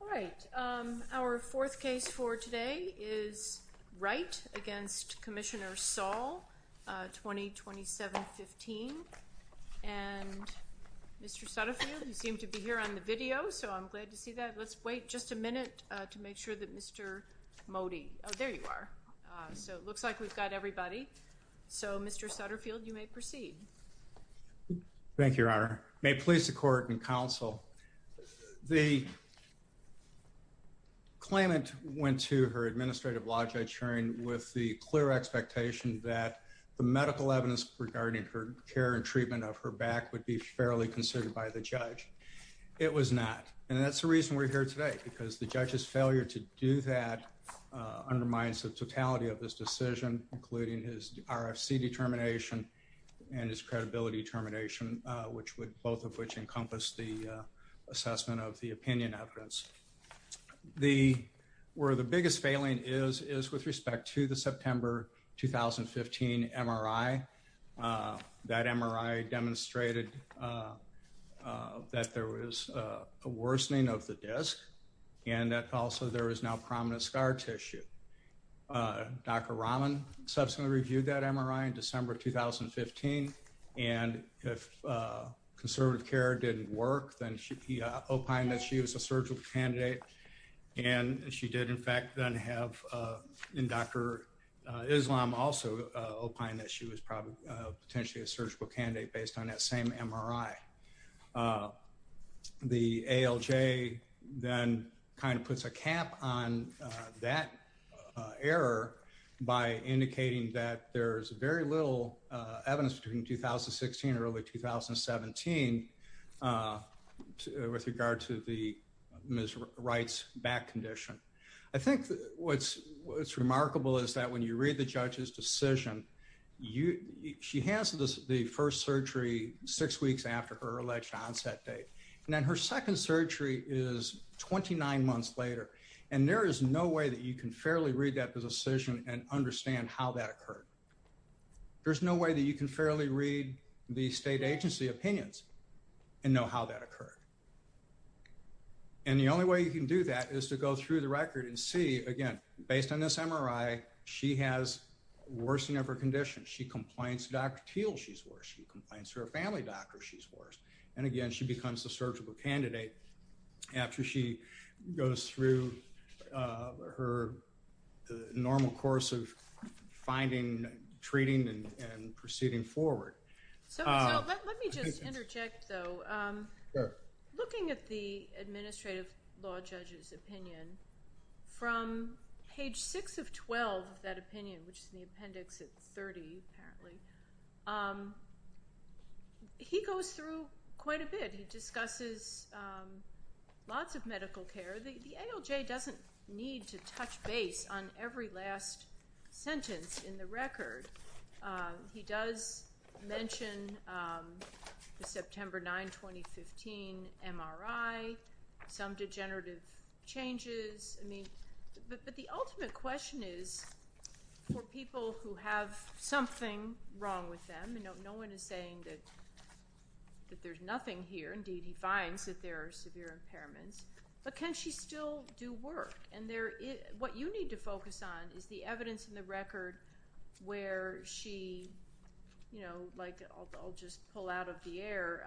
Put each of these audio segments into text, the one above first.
All right, our fourth case for today is Wright v. Commissioner Saul, 2027-15. And Mr. Sutterfield, you seem to be here on the video, so I'm glad to see that. Let's wait just a minute to make sure that Mr. Mody – oh, there you are. So it looks like we've got everybody. So, Mr. Sutterfield, you may proceed. Thank you, Your Honor. May it please the Court and Counsel, the claimant went to her administrative lodgings sharing with the clear expectation that the medical evidence regarding her care and treatment of her back would be fairly considered by the judge. It was not. And that's the reason we're here today, because the judge's failure to do that undermines the totality of this decision, including his RFC determination and his credibility determination, which would – both of which encompass the assessment of the opinion evidence. The – where the biggest failing is, is with respect to the September 2015 MRI. That MRI demonstrated that there was a worsening of the disc and that also there is now prominent scar tissue. Dr. Rahman subsequently reviewed that MRI in December 2015. And if conservative care didn't work, then he opined that she was a surgical candidate. And she did, in fact, then have – and Dr. Islam also opined that she was probably – potentially a surgical candidate based on that same MRI. The ALJ then kind of puts a cap on that error by indicating that there is very little evidence between 2016 and early 2017 with regard to the Ms. Wright's back condition. I think what's remarkable is that when you read the judge's decision, she has the first surgery six weeks after her alleged onset date. And then her second surgery is 29 months later. And there is no way that you can fairly read that decision and understand how that occurred. There's no way that you can fairly read the state agency opinions and know how that occurred. And the only way you can do that is to go through the record and see, again, based on this MRI, she has a worsening of her condition. She complains to Dr. Thiel she's worse. She complains to her family doctor she's worse. And, again, she becomes a surgical candidate after she goes through her normal course of finding, treating, and proceeding forward. So let me just interject, though. Looking at the administrative law judge's opinion, from page 6 of 12 of that opinion, which is in the appendix at 30, apparently, he goes through quite a bit. He discusses lots of medical care. The ALJ doesn't need to touch base on every last sentence in the record. He does mention the September 9, 2015 MRI, some degenerative changes. But the ultimate question is, for people who have something wrong with them, and no one is saying that there's nothing here. Indeed, he finds that there are severe impairments. But can she still do work? What you need to focus on is the evidence in the record where she, you know, like I'll just pull out of the air.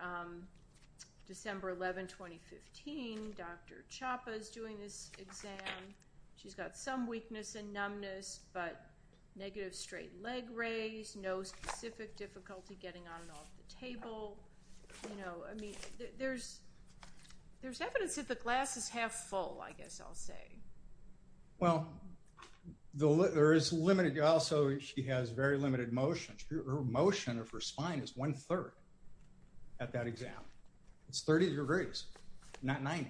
December 11, 2015, Dr. Chapa is doing this exam. She's got some weakness and numbness, but negative straight leg raise, no specific difficulty getting on and off the table. I mean, there's evidence that the glass is half full, I guess I'll say. Well, there is limited, also she has very limited motion. Her motion of her spine is one third at that exam. It's 30 degrees, not 90.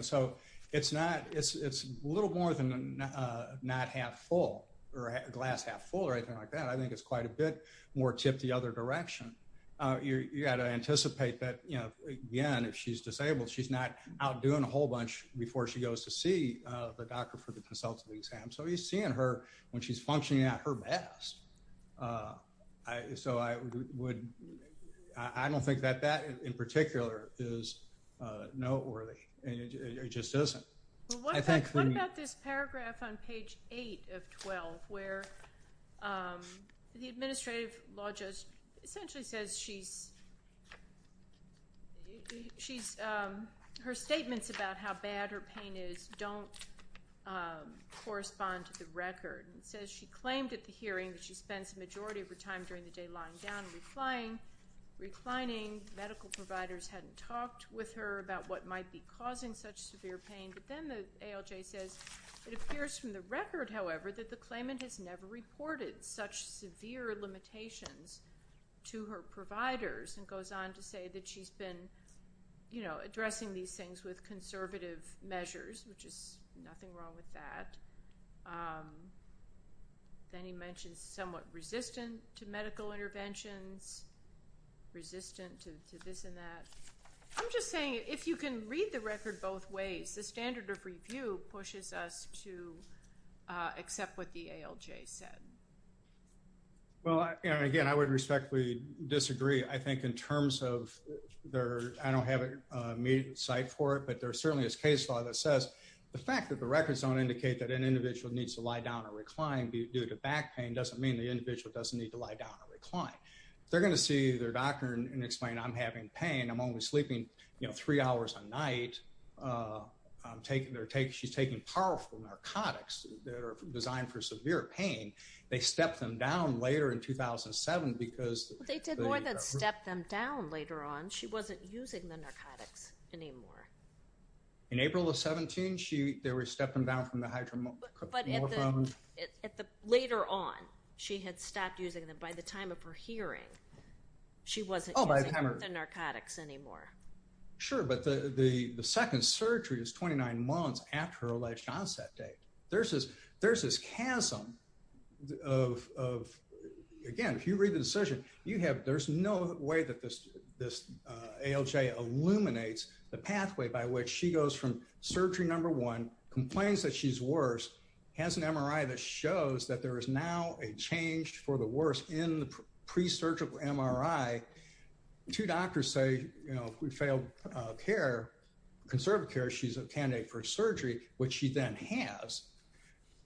So it's not, it's a little more than not half full, or glass half full, or anything like that. I think it's quite a bit more tip the other direction. You got to anticipate that, you know, again, if she's disabled, she's not out doing a whole bunch before she goes to see the doctor for the consultative exam. So he's seeing her when she's functioning at her best. So I would, I don't think that that in particular is noteworthy. It just isn't. What about this paragraph on page 8 of 12, where the administrative law judge essentially says she's, her statements about how bad her pain is don't correspond to the record. It says she claimed at the hearing that she spends the majority of her time during the day lying down and reclining. Medical providers hadn't talked with her about what might be causing such severe pain, but then the ALJ says it appears from the record, however, that the claimant has never reported such severe limitations to her providers, and goes on to say that she's been, you know, addressing these things with conservative measures, which is nothing wrong with that. Then he mentions somewhat resistant to medical interventions, resistant to this and that. I'm just saying if you can read the record both ways, the standard of review pushes us to accept what the ALJ said. Well, again, I would respectfully disagree. I think in terms of their, I don't have immediate sight for it, but there certainly is case law that says the fact that the records don't indicate that an individual needs to lie down or recline due to back pain doesn't mean the individual doesn't need to lie down or recline. They're going to see their doctor and explain, I'm having pain. I'm only sleeping, you know, three hours a night. She's taking powerful narcotics that are designed for severe pain. They stepped them down later in 2007 because... They did more than step them down later on. She wasn't using the narcotics anymore. In April of 17, they were stepping down from the hydromorphone. But later on, she had stopped using them. By the time of her hearing, she wasn't using the narcotics anymore. Sure, but the second surgery is 29 months after her alleged onset date. There's this chasm of, again, if you read the decision, there's no way that this ALJ illuminates the pathway by which she goes from surgery number one, complains that she's worse, has an MRI that shows that there is now a change for the worse in the pre-surgical MRI. Two doctors say, you know, if we fail conservative care, she's a candidate for surgery, which she then has.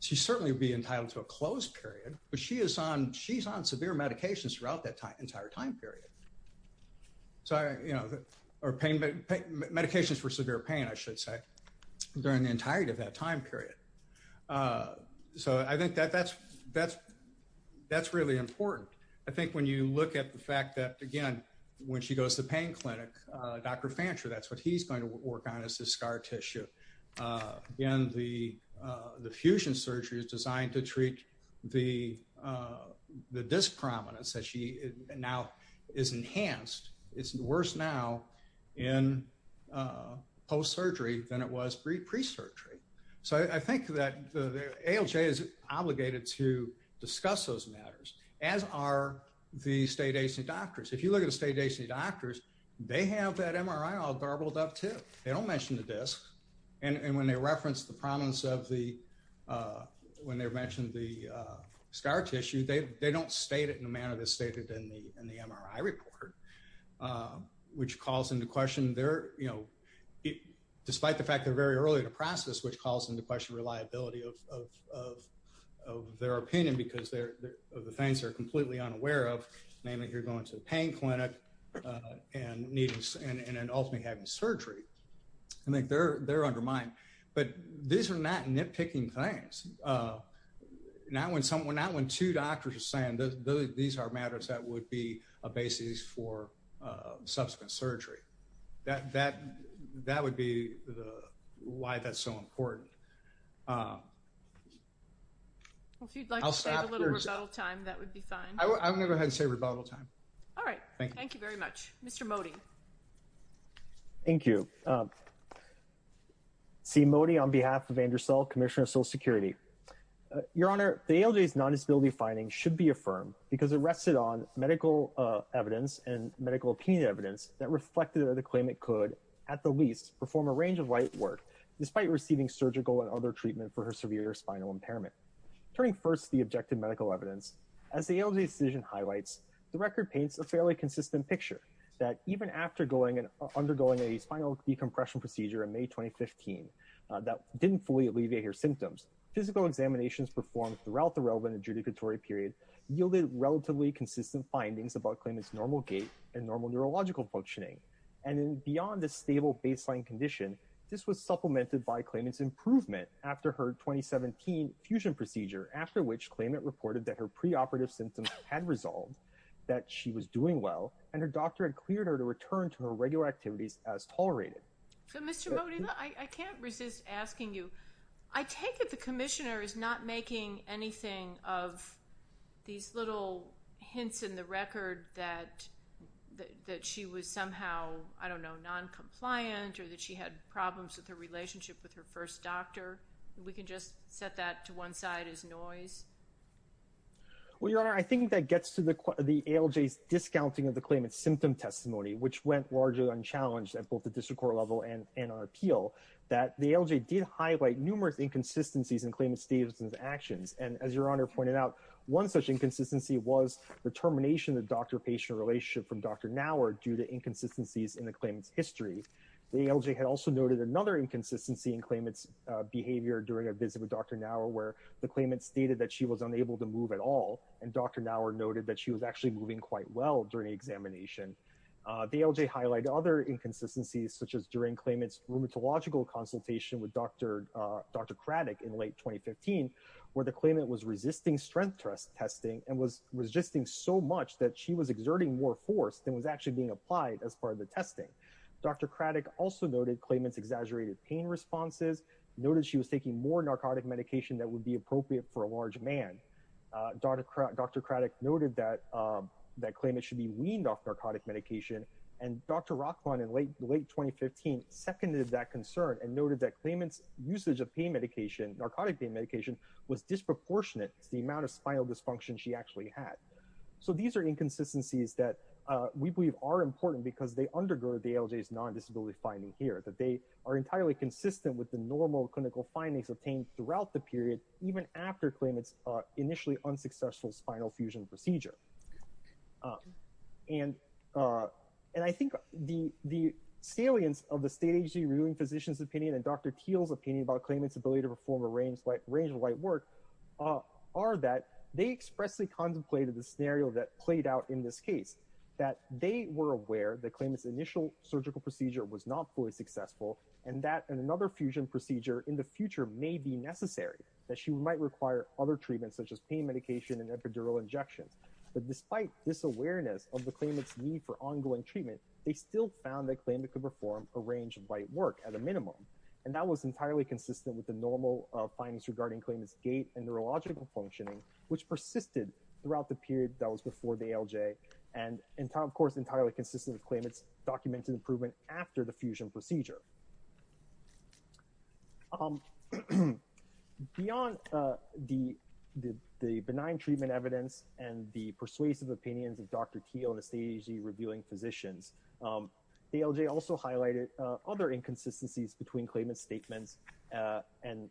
She certainly would be entitled to a closed period. But she's on severe medications throughout that entire time period. So, you know, medications for severe pain, I should say, during the entirety of that time period. So I think that's really important. I think when you look at the fact that, again, when she goes to pain clinic, Dr. Fancher, that's what he's going to work on is his scar tissue. Again, the fusion surgery is designed to treat the disc prominence that she now is enhanced. It's worse now in post-surgery than it was pre-surgery. So I think that ALJ is obligated to discuss those matters. As are the state agency doctors. If you look at the state agency doctors, they have that MRI all garbled up, too. They don't mention the disc. And when they reference the prominence of the, when they mentioned the scar tissue, they don't state it in a manner that's stated in the MRI report, which calls into question their, you know, despite the fact they're very early in the process, which calls into question reliability of their opinion because of the things they're completely unaware of. Namely, you're going to a pain clinic and ultimately having surgery. I think they're undermined. But these are not nitpicking things. Not when two doctors are saying these are matters that would be a basis for subsequent surgery. That would be why that's so important. Well, if you'd like to save a little rebuttal time, that would be fine. I'm going to go ahead and save rebuttal time. All right. Thank you very much. Mr. Mody. Thank you. C. Mody on behalf of Andrew Sell, Commissioner of Social Security. Your Honor, the ALJ's non-disability finding should be affirmed because it rested on medical evidence and medical opinion evidence that reflected the claim it could, at the least, perform a range of light work, despite receiving surgical and other treatment for her severe spinal impairment. Turning first to the objective medical evidence, as the ALJ's decision highlights, the record paints a fairly consistent picture that even after undergoing a spinal decompression procedure in May 2015 that didn't fully alleviate her symptoms, physical examinations performed throughout the relevant adjudicatory period yielded relatively consistent findings about claimant's normal gait and normal neurological functioning. And beyond the stable baseline condition, this was supplemented by claimant's improvement after her 2017 fusion procedure, after which claimant reported that her preoperative symptoms had resolved, that she was doing well, and her doctor had cleared her to return to her regular activities as tolerated. So, Mr. Mody, I can't resist asking you. I take it the Commissioner is not making anything of these little hints in the record that she was somehow, I don't know, non-compliant or that she had problems with her relationship with her first doctor. We can just set that to one side as noise. Well, Your Honor, I think that gets to the ALJ's discounting of the claimant's symptom testimony, which went largely unchallenged at both the district court level and on appeal, that the ALJ did highlight numerous inconsistencies in claimant's statements and actions. And as Your Honor pointed out, one such inconsistency was the termination of the doctor-patient relationship from Dr. Naur due to inconsistencies in the claimant's history. The ALJ had also noted another inconsistency in claimant's behavior during a visit with Dr. Naur, where the claimant stated that she was unable to move at all, and Dr. Naur noted that she was actually moving quite well during the examination. The ALJ highlighted other inconsistencies, such as during claimant's rheumatological consultation with Dr. Craddick in late 2015, where the claimant was resisting strength testing and was resisting so much that she was exerting more force than was actually being applied as part of the testing. Dr. Craddick also noted claimant's exaggerated pain responses, noted she was taking more narcotic medication that would be appropriate for a large man. Dr. Craddick noted that claimant should be weaned off narcotic medication, and Dr. Rockland in late 2015 seconded that concern and noted that claimant's usage of pain medication, narcotic pain medication, was disproportionate to the amount of spinal dysfunction she actually had. So these are inconsistencies that we believe are important because they undergird the ALJ's non-disability finding here, that they are entirely consistent with the normal clinical findings obtained throughout the period, even after claimant's initially unsuccessful spinal fusion procedure. And I think the salience of the state agency reviewing physician's opinion and Dr. Thiel's opinion about claimant's ability to perform a range of light work are that they expressly contemplated the scenario that played out in this case, that they were aware that claimant's initial surgical procedure was not fully successful and that another fusion procedure in the future may be necessary, that she might require other treatments such as pain medication and epidural injections. But despite this awareness of the claimant's need for ongoing treatment, they still found that claimant could perform a range of light work at a minimum. And that was entirely consistent with the normal findings regarding claimant's gait and neurological functioning, which persisted throughout the period that was before the ALJ, and of course entirely consistent with claimant's documented improvement after the fusion procedure. Beyond the benign treatment evidence and the persuasive opinions of Dr. Thiel and the state agency reviewing physicians, the ALJ also highlighted other inconsistencies between claimant's statements and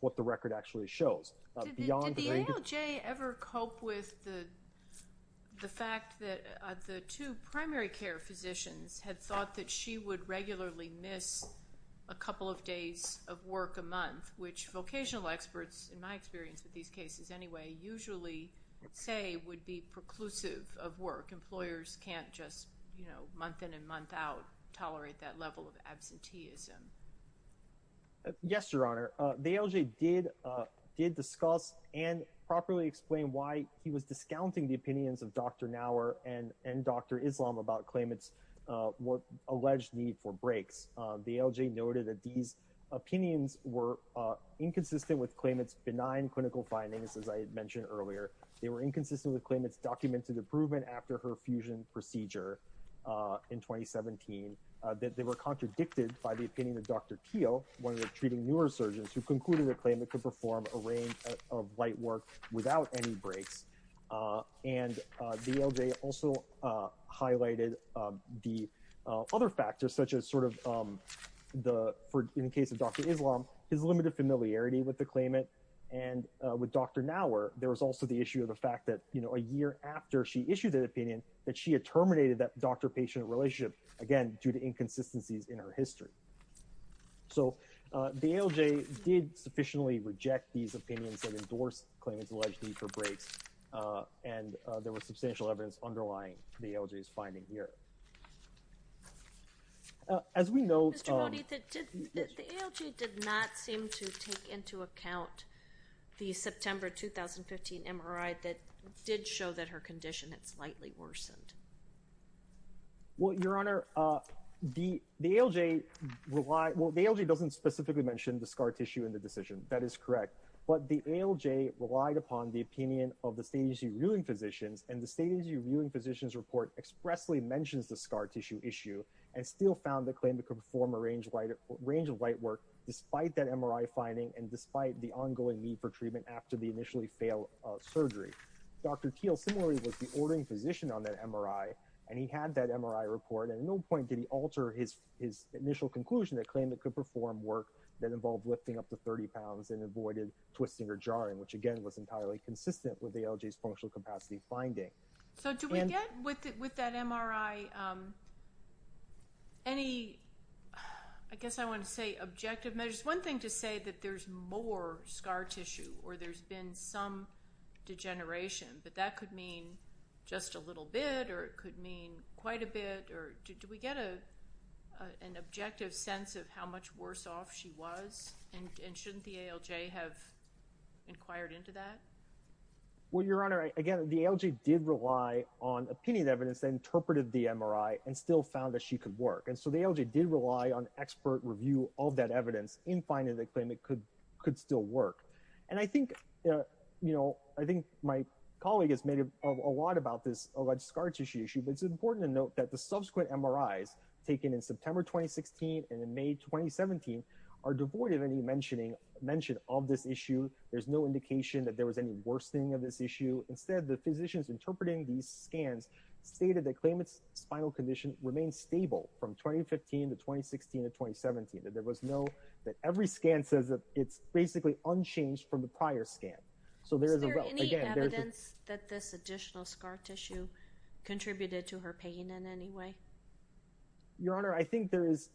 what the record actually shows. Did the ALJ ever cope with the fact that the two primary care physicians had thought that she would regularly miss a couple of days of work a month, which vocational experts, in my experience with these cases anyway, usually say would be preclusive of work. Employers can't just month in and month out tolerate that level of absenteeism. Yes, Your Honor. The ALJ did discuss and properly explain why he was discounting the opinions of Dr. Naur and Dr. Islam about claimant's alleged need for breaks. The ALJ noted that these opinions were inconsistent with claimant's benign clinical findings, as I mentioned earlier. They were inconsistent with claimant's documented improvement after her fusion procedure in 2017. They were contradicted by the opinion of Dr. Thiel, one of the treating neurosurgeons, who concluded that claimant could perform a range of light work without any breaks. And the ALJ also highlighted the other factors, such as, in the case of Dr. Islam, his limited familiarity with the claimant. And with Dr. Naur, there was also the issue of the fact that a year after she issued that opinion, that she had terminated that doctor-patient relationship, again, due to inconsistencies in her history. So the ALJ did sufficiently reject these opinions and endorsed claimant's alleged need for breaks. And there was substantial evidence underlying the ALJ's finding here. As we know- Mr. Modi, the ALJ did not seem to take into account the September 2015 MRI that did show that her condition had slightly worsened. Well, Your Honor, the ALJ doesn't specifically mention the scar tissue in the decision. That is correct. But the ALJ relied upon the opinion of the State Agency Reviewing Physicians, and the State Agency Reviewing Physicians report expressly mentions the scar tissue issue and still found the claimant could perform a range of light work despite that MRI finding and despite the ongoing need for treatment after the initially failed surgery. Dr. Thiel similarly was the ordering physician on that MRI, and he had that MRI report. And at no point did he alter his initial conclusion that claimant could perform work that involved lifting up to 30 pounds and avoided twisting or jarring, which, again, was entirely consistent with the ALJ's functional capacity finding. So do we get with that MRI any, I guess I want to say, objective measures? One thing to say that there's more scar tissue or there's been some degeneration, but that could mean just a little bit or it could mean quite a bit. Do we get an objective sense of how much worse off she was? And shouldn't the ALJ have inquired into that? Well, Your Honor, again, the ALJ did rely on opinion evidence that interpreted the MRI and still found that she could work. And so the ALJ did rely on expert review of that evidence in finding the claimant could still work. And I think, you know, I think my colleague has made a lot about this alleged scar tissue issue, but it's important to note that the subsequent MRIs taken in September 2016 and in May 2017 are devoid of any mention of this issue. There's no indication that there was any worsening of this issue. Instead, the physicians interpreting these scans stated that claimant's spinal condition remained stable from 2015 to 2016 to 2017, that there was no, that every scan says that it's basically unchanged from the prior scan. Is there any evidence that this additional scar tissue contributed to her pain in any way? Your Honor, I think there is.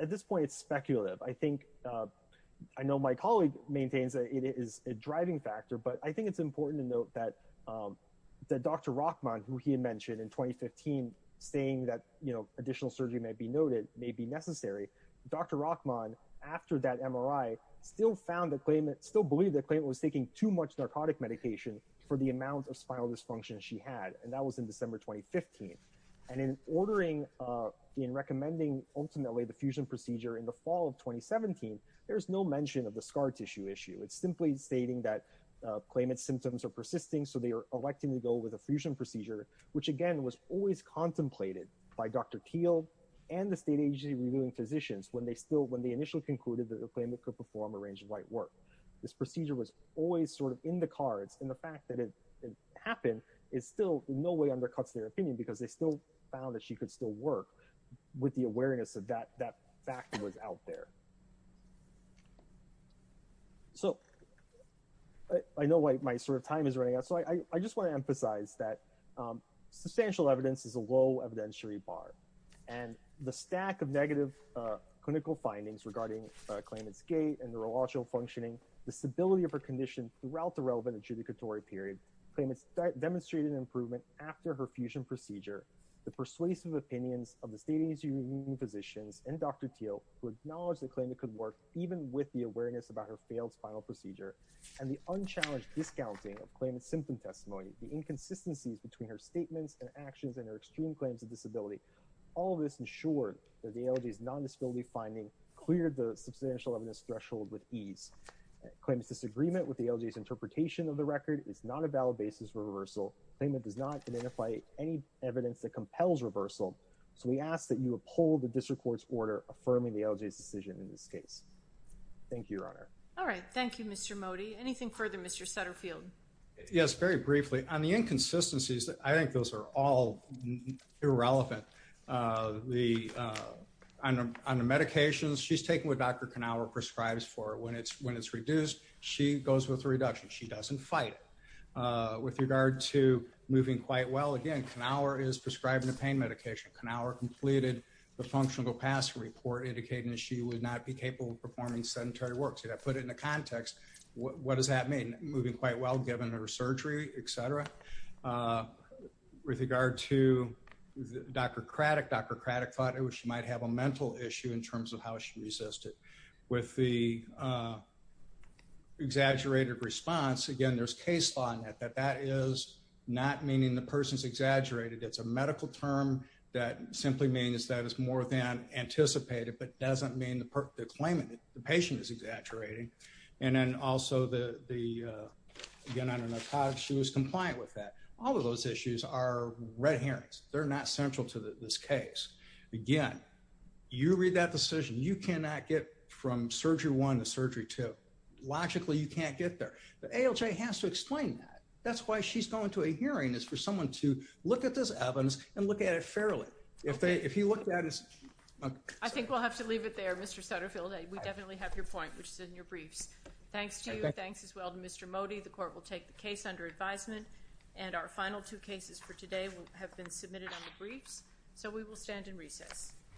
At this point, it's speculative. I think, I know my colleague maintains that it is a driving factor, but I think it's important to note that Dr. Rachman, who he had mentioned in 2015, saying that, you know, additional surgery may be noted, may be necessary. Dr. Rachman, after that MRI, still found the claimant, still believed the claimant was taking too much narcotic medication for the amount of spinal dysfunction she had. And that was in December 2015. And in ordering, in recommending ultimately the fusion procedure in the fall of 2017, there's no mention of the scar tissue issue. It's simply stating that claimant's symptoms are persisting, so they are electing to go with a fusion procedure, which, again, was always contemplated by Dr. Thiel and the state agency reviewing physicians when they still, when they initially concluded that the claimant could perform a range of light work. This procedure was always sort of in the cards. And the fact that it happened is still in no way undercuts their opinion because they still found that she could still work with the awareness of that fact that was out there. So I know my sort of time is running out. So I just want to emphasize that substantial evidence is a low evidentiary bar. And the stack of negative clinical findings regarding claimant's gait and neurological functioning, the stability of her condition throughout the relevant adjudicatory period, claimants demonstrated improvement after her fusion procedure, the persuasive opinions of the state agency reviewing physicians and Dr. Thiel, who acknowledged the claimant could work even with the awareness about her failed spinal procedure, and the unchallenged discounting of claimant's symptom testimony, the inconsistencies between her statements and actions and her extreme claims of disability, all of this ensured that the ALJ's non-disability finding cleared the substantial evidence threshold with ease. Claimant's disagreement with the ALJ's interpretation of the record is not a valid basis for reversal. Claimant does not identify any evidence that compels reversal. So we ask that you uphold the district court's order affirming the ALJ's decision in this case. Thank you, Your Honor. All right. Thank you, Mr. Mody. Anything further, Mr. Sutterfield? Yes, very briefly. On the inconsistencies, I think those are all irrelevant. On the medications, she's taken what Dr. Knauer prescribes for when it's reduced. She goes with a reduction. She doesn't fight it. With regard to moving quite well, again, Knauer is prescribing a pain medication. Knauer completed the functional capacity report, indicating that she would not be capable of performing sedentary work. To put it into context, what does that mean? Moving quite well, given her surgery, et cetera. With regard to Dr. Craddock, Dr. Craddock thought she might have a mental issue in terms of how she resisted. With the exaggerated response, again, there's case law in that, that that is not meaning the person's exaggerated. It's a medical term that simply means that it's more than anticipated, but doesn't mean the claimant, the patient is exaggerating. And then also the, again, I don't know how she was compliant with that. All of those issues are red herrings. They're not central to this case. Again, you read that decision. You cannot get from surgery one to surgery two. Logically, you can't get there. The ALJ has to explain that. That's why she's going to a hearing, is for someone to look at this evidence and look at it fairly. If you look at it. I think we'll have to leave it there, Mr. Sutterfield. We definitely have your point, which is in your briefs. Thanks to you. Thanks as well to Mr. Modi. The court will take the case under advisement. And our final two cases for today have been submitted on the briefs. So we will stand in recess.